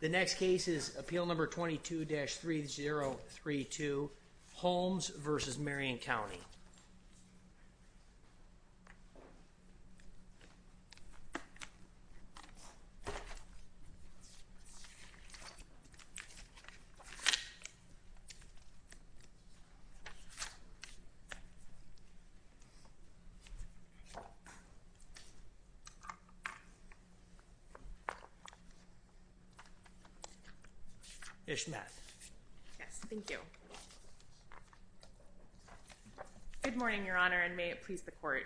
The next case is appeal number 22-3032, Holmes v. Marion County. Ms. Schmatt. Yes, thank you. Good morning, Your Honor, and may it please the Court.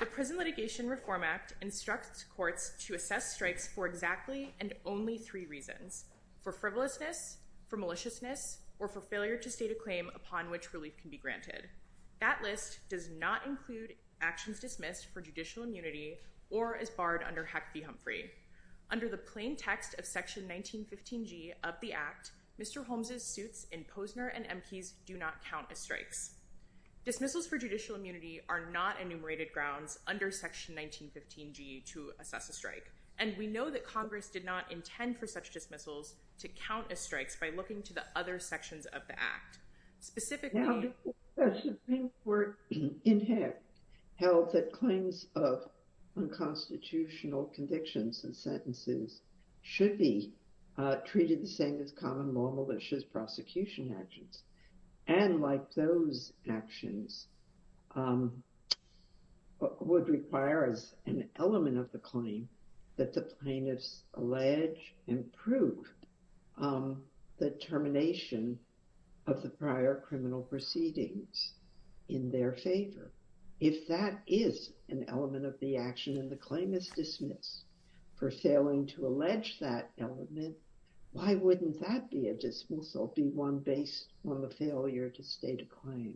The Prison Litigation Reform Act instructs courts to assess strikes for exactly and only three reasons. For frivolousness, for maliciousness, or for failure to state a claim upon which relief can be granted. That list does not include actions dismissed for judicial immunity or as barred under HEC v. Humphrey. Under the plain text of Section 1915G of the Act, Mr. Holmes' suits in Posner and Emkes do not count as strikes. Dismissals for judicial immunity are not enumerated grounds under Section 1915G to assess a strike, and we know that Congress did not intend for such dismissals to count as strikes by looking to the other sections of the Act. Now, the Supreme Court in HEC held that claims of unconstitutional convictions and sentences should be treated the same as common, non-malicious prosecution actions. And, like those actions, would require as an element of the claim that the plaintiffs allege and prove the termination of the prior criminal proceedings in their favor. If that is an element of the action and the claim is dismissed for failing to allege that element, why wouldn't that be a dismissal, be one based on the failure to state a claim?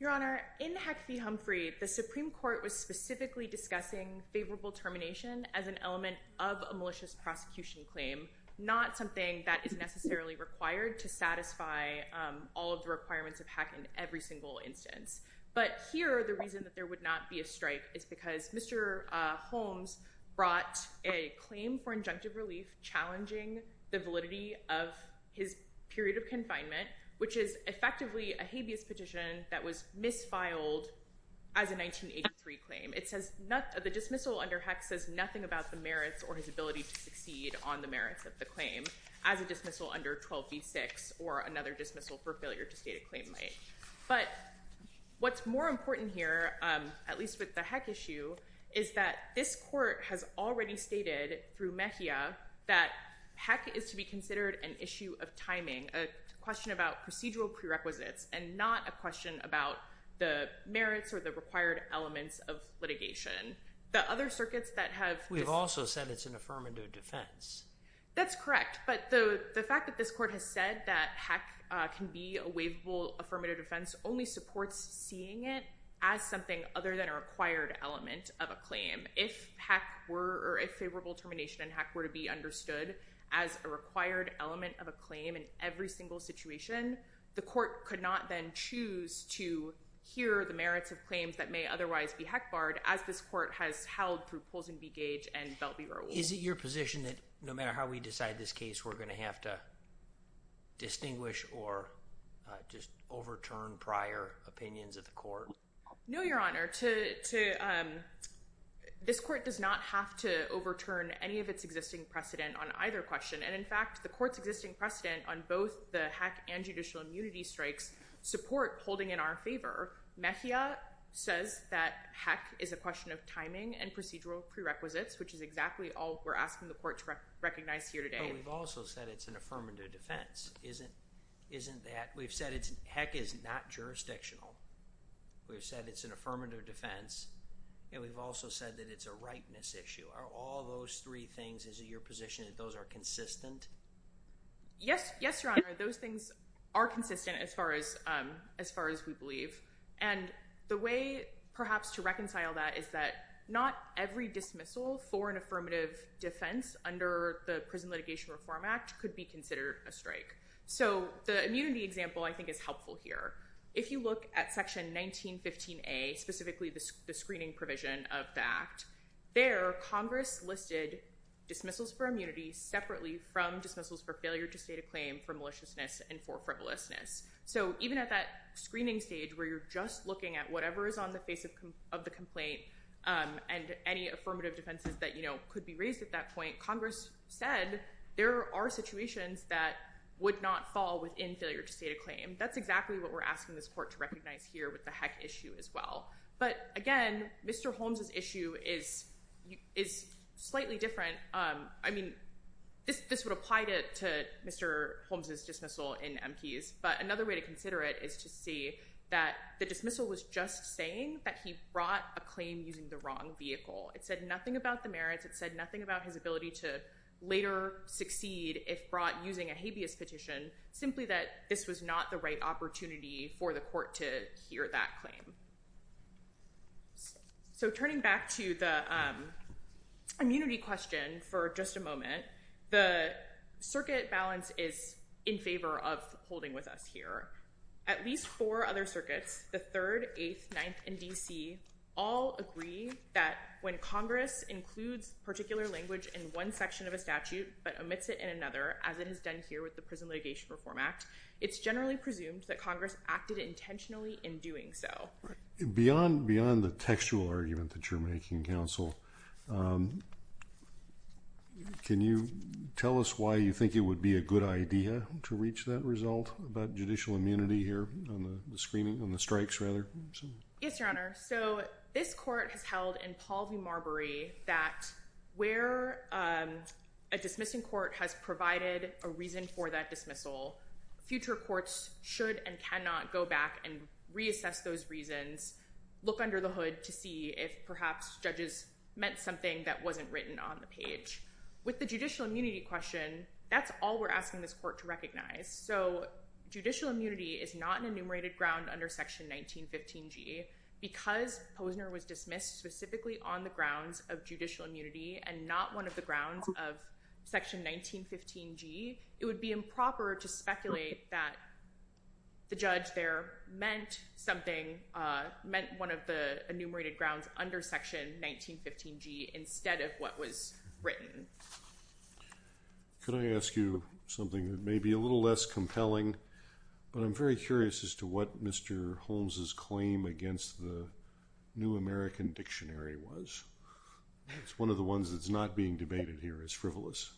Your Honor, in HEC v. Humphrey, the Supreme Court was specifically discussing favorable termination as an element of a malicious prosecution claim, not something that is necessarily required to satisfy all of the requirements of HEC in every single instance. Here, the reason that there would not be a strike is because Mr. Holmes brought a claim for injunctive relief challenging the validity of his period of confinement, which is effectively a habeas petition that was misfiled as a 1983 claim. The dismissal under HEC says nothing about the merits or his ability to succeed on the merits of the claim as a dismissal under 12v6 or another dismissal for failure to state a claim might. But what's more important here, at least with the HEC issue, is that this Court has already stated through Mejia that HEC is to be considered an issue of timing, a question about procedural prerequisites and not a question about the merits or the required elements of litigation. We've also said it's an affirmative defense. That's correct, but the fact that this Court has said that HEC can be a waivable affirmative defense only supports seeing it as something other than a required element of a claim. If HEC were, or if favorable termination in HEC were to be understood as a required element of a claim in every single situation, the Court could not then choose to hear the merits of claims that may otherwise be HEC barred as this Court has held through Polson v. Gage and Belby v. Rowell. Is it your position that no matter how we decide this case, we're going to have to distinguish or just overturn prior opinions of the Court? No, Your Honor. This Court does not have to overturn any of its existing precedent on either question. And in fact, the Court's existing precedent on both the HEC and judicial immunity strikes support holding in our favor. Mejia says that HEC is a question of timing and procedural prerequisites, which is exactly all we're asking the Court to recognize here today. But we've also said it's an affirmative defense. Isn't that, we've said HEC is not jurisdictional. We've said it's an affirmative defense, and we've also said that it's a rightness issue. Are all those three things, is it your position that those are consistent? Yes, Your Honor. Those things are consistent as far as we believe. And the way perhaps to reconcile that is that not every dismissal for an affirmative defense under the Prison Litigation Reform Act could be considered a strike. So the immunity example I think is helpful here. If you look at Section 1915A, specifically the screening provision of the Act, there Congress listed dismissals for immunity separately from dismissals for failure to state a claim for maliciousness and for frivolousness. So even at that screening stage where you're just looking at whatever is on the face of the complaint and any affirmative defenses that could be raised at that point, Congress said there are situations that would not fall within failure to state a claim. That's exactly what we're asking this Court to recognize here with the HEC issue as well. But again, Mr. Holmes' issue is slightly different. I mean, this would apply to Mr. Holmes' dismissal in MPs, but another way to consider it is to see that the dismissal was just saying that he brought a claim using the wrong vehicle. It said nothing about the merits. It said nothing about his ability to later succeed if brought using a habeas petition. Simply that this was not the right opportunity for the Court to hear that claim. So turning back to the immunity question for just a moment, the circuit balance is in favor of holding with us here. At least four other circuits, the 3rd, 8th, 9th, and D.C., all agree that when Congress includes particular language in one section of a statute but omits it in another, as it has done here with the Prison Litigation Reform Act, it's generally presumed that Congress acted intentionally in doing so. Beyond the textual argument that you're making, Counsel, can you tell us why you think it would be a good idea to reach that result about judicial immunity here on the strikes? Yes, Your Honor. So this Court has held in Paul v. Marbury that where a dismissing court has provided a reason for that dismissal, future courts should and cannot go back and reassess those reasons, look under the hood to see if perhaps judges meant something that wasn't written on the page. With the judicial immunity question, that's all we're asking this Court to recognize. So judicial immunity is not an enumerated ground under Section 1915G. Because Posner was dismissed specifically on the grounds of judicial immunity and not one of the grounds of Section 1915G, it would be improper to speculate that the judge there meant something, meant one of the enumerated grounds under Section 1915G instead of what was written. Could I ask you something that may be a little less compelling, but I'm very curious as to what Mr. Holmes' claim against the New American Dictionary was. It's one of the ones that's not being debated here. It's frivolous.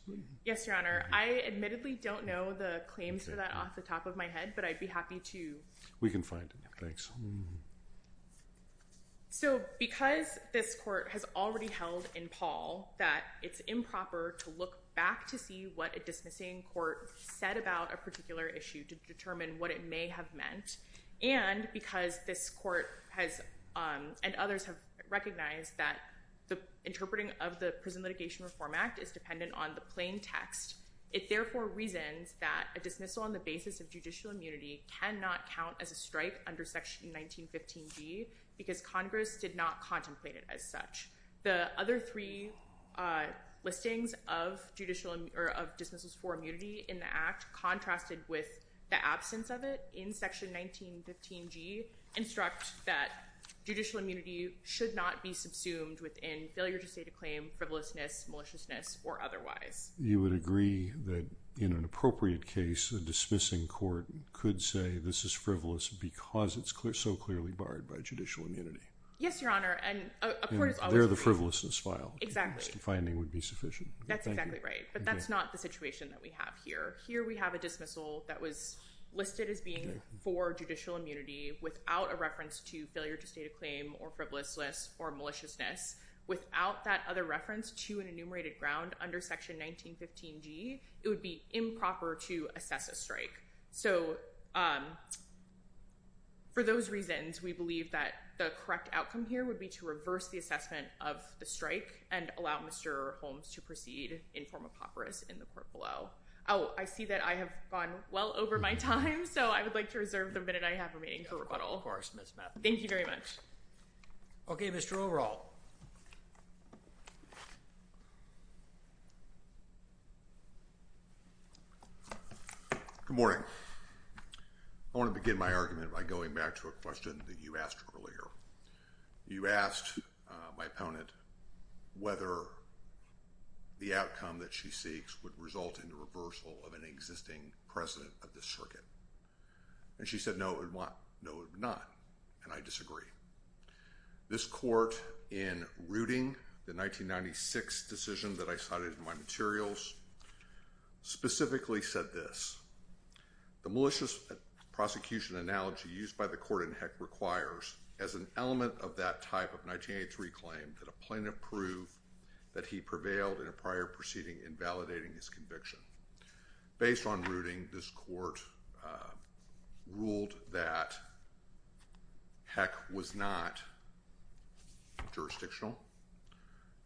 Yes, Your Honor. I admittedly don't know the claims for that off the top of my head, but I'd be happy to... We can find it. Thanks. So because this Court has already held in Paul that it's improper to look back to see what a dismissing court said about a particular issue to determine what it may have meant, and because this Court and others have recognized that the interpreting of the Prison Litigation Reform Act is dependent on the plain text, it therefore reasons that a dismissal on the basis of judicial immunity cannot count as a strike under Section 1915G because Congress did not contemplate it as such. The other three listings of dismissals for immunity in the Act contrasted with the absence of it in Section 1915G instruct that judicial immunity should not be subsumed within failure to state a claim, frivolousness, maliciousness, or otherwise. You would agree that in an appropriate case, a dismissing court could say this is frivolous because it's so clearly barred by judicial immunity. Yes, Your Honor. They're the frivolousness file. Exactly. The finding would be sufficient. That's exactly right. But that's not the situation that we have here. Here we have a dismissal that was listed as being for judicial immunity without a reference to failure to state a claim or frivolousness or maliciousness. Without that other reference to an enumerated ground under Section 1915G, it would be improper to assess a strike. So for those reasons, we believe that the correct outcome here would be to reverse the assessment of the strike and allow Mr. Holmes to proceed in form of papyrus in the court below. Oh, I see that I have gone well over my time, so I would like to reserve the minute I have remaining for rebuttal. Of course, Ms. Matthews. Thank you very much. Okay, Mr. O'Rourke. Mr. Hall. Good morning. I want to begin my argument by going back to a question that you asked earlier. You asked my opponent whether the outcome that she seeks would result in the reversal of an existing president of the circuit. And she said no it would not, and I disagree. This court, in rooting the 1996 decision that I cited in my materials, specifically said this. The malicious prosecution analogy used by the court in Heck requires as an element of that type of 1983 claim that a plaintiff prove that he prevailed in a prior proceeding invalidating his conviction. Based on rooting, this court ruled that Heck was not jurisdictional,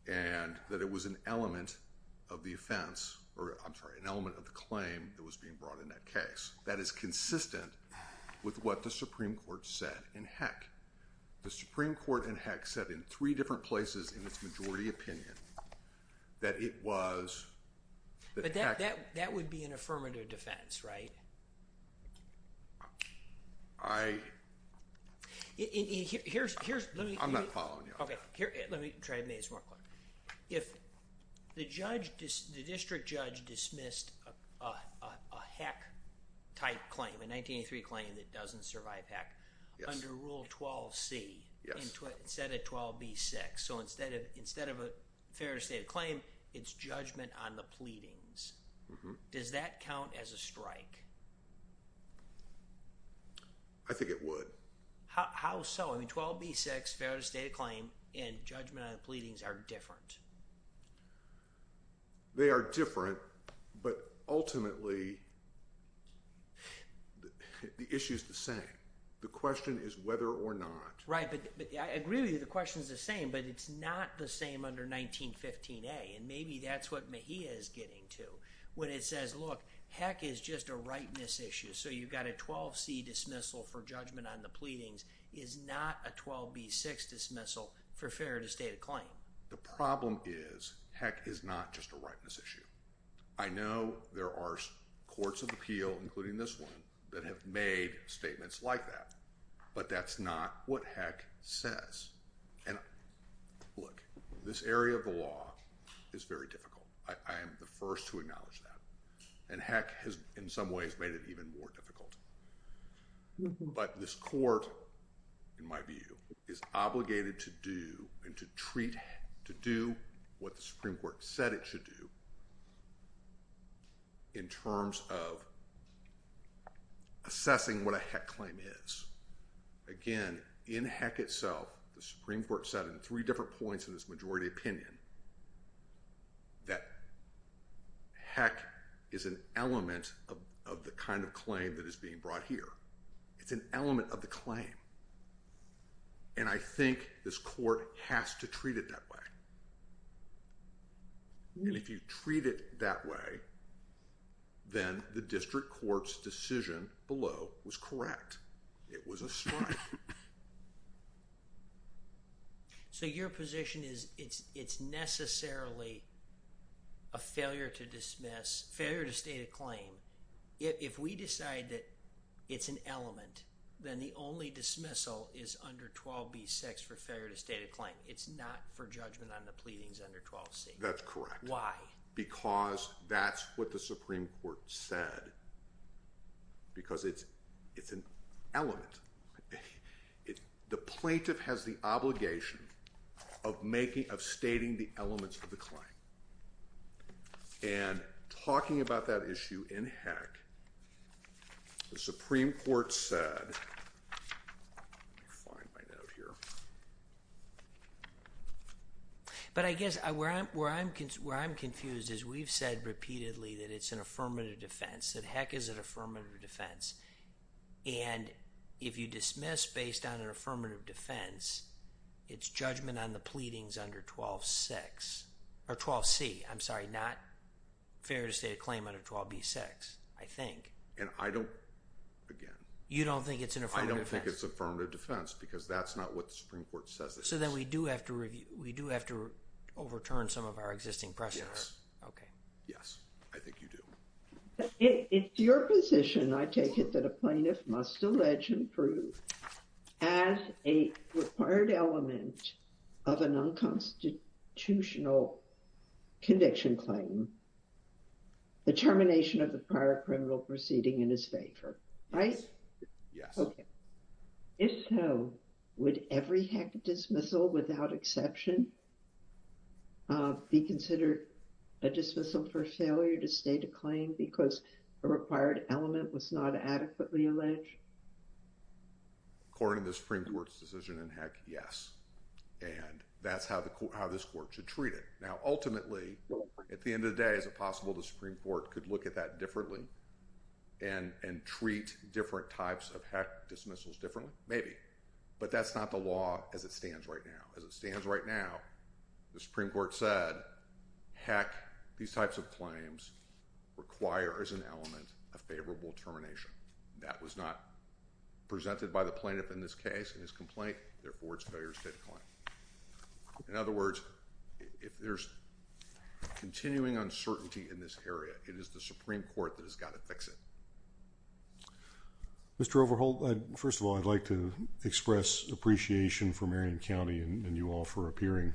and that it was an element of the offense, or I'm sorry, an element of the claim that was being brought in that case. That is consistent with what the Supreme Court said in Heck. The Supreme Court in Heck said in three different places in its majority opinion that it was that Heck. But that would be an affirmative defense, right? I... I'm not following you on that. Okay, let me try to make this more clear. If the district judge dismissed a Heck type claim, a 1983 claim that doesn't survive Heck, under Rule 12c, instead of 12b6, so instead of a fair to state claim, it's judgment on the pleadings. Does that count as a strike? I think it would. How so? I mean, 12b6, fair to state claim, and judgment on the pleadings are different. They are different, but ultimately, the issue is the same. The question is whether or not. Right, but I agree with you, the question is the same, but it's not the same under 1915a, and maybe that's what Mejia is getting to. When it says, look, Heck is just a rightness issue, so you've got a 12c dismissal for judgment on the pleadings, is not a 12b6 dismissal for fair to state a claim. The problem is, Heck is not just a rightness issue. I know there are courts of appeal, including this one, that have made statements like that, but that's not what Heck says. And look, this area of the law is very difficult. I am the first to acknowledge that, and Heck has, in some ways, made it even more difficult. But this court, in my view, is obligated to do and to treat, to do what the Supreme Court said it should do, in terms of assessing what a Heck claim is. Again, in Heck itself, the Supreme Court said in three different points in its majority opinion that Heck is an element of the kind of claim that is being brought here. It's an element of the claim, and I think this court has to treat it that way. And if you treat it that way, then the district court's decision below was correct. It was a strike. So your position is it's necessarily a failure to state a claim. If we decide that it's an element, then the only dismissal is under 12b6 for failure to state a claim. It's not for judgment on the pleadings under 12c. That's correct. Why? Because that's what the Supreme Court said, because it's an element. The plaintiff has the obligation of stating the elements of the claim. And talking about that issue in Heck, the Supreme Court said—let me find my note here. But I guess where I'm confused is we've said repeatedly that it's an affirmative defense, that Heck is an affirmative defense. And if you dismiss based on an affirmative defense, it's judgment on the pleadings under 12c. I'm sorry, not failure to state a claim under 12b6, I think. And I don't—again. You don't think it's an affirmative defense? Because that's not what the Supreme Court says it is. So then we do have to overturn some of our existing precedent. Okay. Yes, I think you do. It's your position, I take it, that a plaintiff must allege and prove as a required element of an unconstitutional conviction claim the termination of the prior criminal proceeding in his favor, right? Yes. Okay. If so, would every Heck dismissal without exception be considered a dismissal for failure to state a claim because a required element was not adequately alleged? According to the Supreme Court's decision in Heck, yes. And that's how this Court should treat it. Now, ultimately, at the end of the day, is it possible the Supreme Court could look at that differently and treat different types of Heck dismissals differently? Maybe. But that's not the law as it stands right now. As it stands right now, the Supreme Court said, Heck, these types of claims require as an element a favorable termination. That was not presented by the plaintiff in this case in his complaint. Therefore, it's a failure to state a claim. In other words, if there's continuing uncertainty in this area, it is the Supreme Court that has got to fix it. Mr. Overholt, first of all, I'd like to express appreciation for Marion County and you all for appearing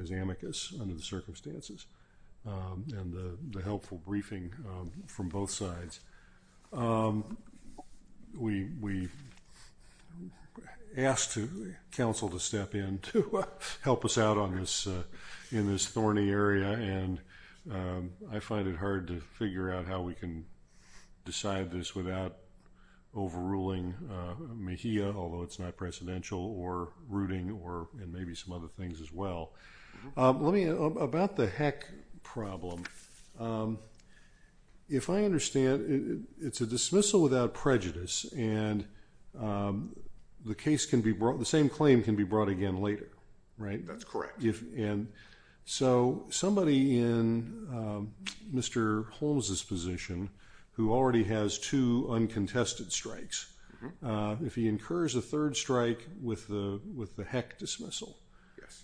as amicus under the circumstances and the helpful briefing from both sides. We asked counsel to step in to help us out in this thorny area, and I find it hard to figure out how we can decide this without overruling Mejia, although it's not presidential, or rooting, and maybe some other things as well. About the Heck problem, if I understand, it's a dismissal without prejudice, and the same claim can be brought again later, right? That's correct. So, somebody in Mr. Holmes' position, who already has two uncontested strikes, if he incurs a third strike with the Heck dismissal,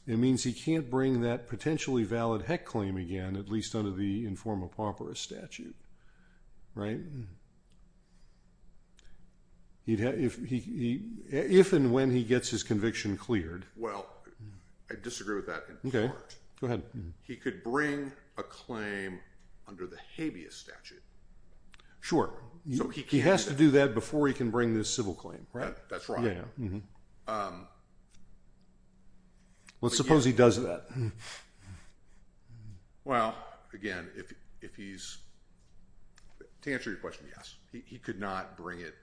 it means he can't bring that potentially valid Heck claim again, at least under the informa pauperis statute, right? If and when he gets his conviction cleared. Well, I disagree with that in part. Okay, go ahead. He could bring a claim under the habeas statute. He has to do that before he can bring this civil claim, right? That's right. Let's suppose he does that. Well, again, to answer your question, yes. He could not bring it.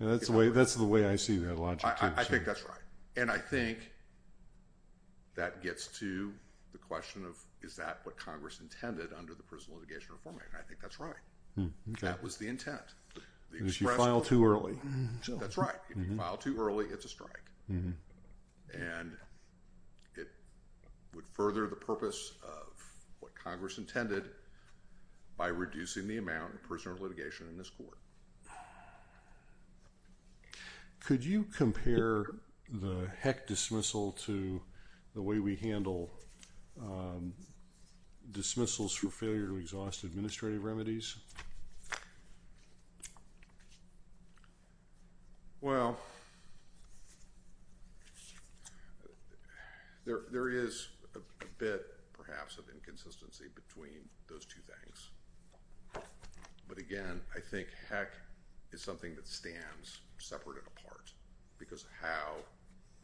That's the way I see that logic. I think that's right. And I think that gets to the question of, is that what Congress intended under the Prisoner Litigation Reform Act? And I think that's right. That was the intent. Unless you file too early. That's right. If you file too early, it's a strike. And it would further the purpose of what Congress intended by reducing the amount of prisoner litigation in this court. Could you compare the Heck dismissal to the way we handle dismissals for failure to exhaust administrative remedies? Well, there is a bit, perhaps, of inconsistency between those two things. But again, I think Heck is something that stands separate and apart because of how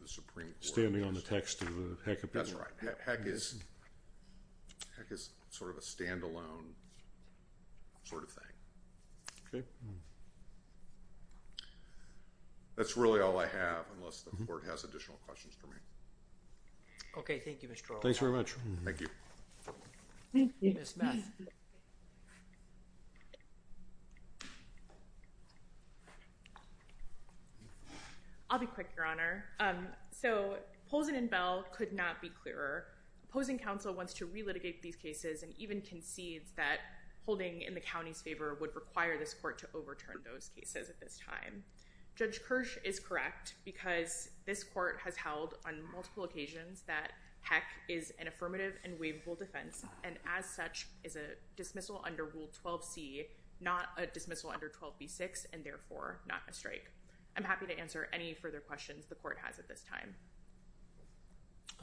the Supreme Court. Standing on the text of the Heck appeal. That's right. Heck is sort of a standalone sort of thing. Okay. That's really all I have, unless the court has additional questions for me. Okay. Thank you, Mr. Earl. Thanks very much. Thank you. Thank you, Ms. Smith. I'll be quick, Your Honor. So, Pozen and Bell could not be clearer. Pozen Council wants to relitigate these cases and even concedes that holding in the county's favor would require this court to overturn those cases at this time. Judge Kirsch is correct because this court has held on multiple defendants and as such is a dismissal under Rule 12C, not a dismissal under 12B6 and therefore not a strike. I'm happy to answer any further questions the court has at this time.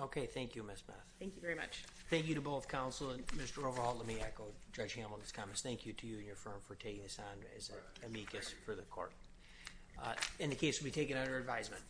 Okay. Thank you, Ms. Smith. Thank you very much. Thank you to both counsel and Mr. Overholt. Let me echo Judge Hamilton's comments. Thank you to you and your firm for taking this on as amicus for the court. And the case will be taken under advisement.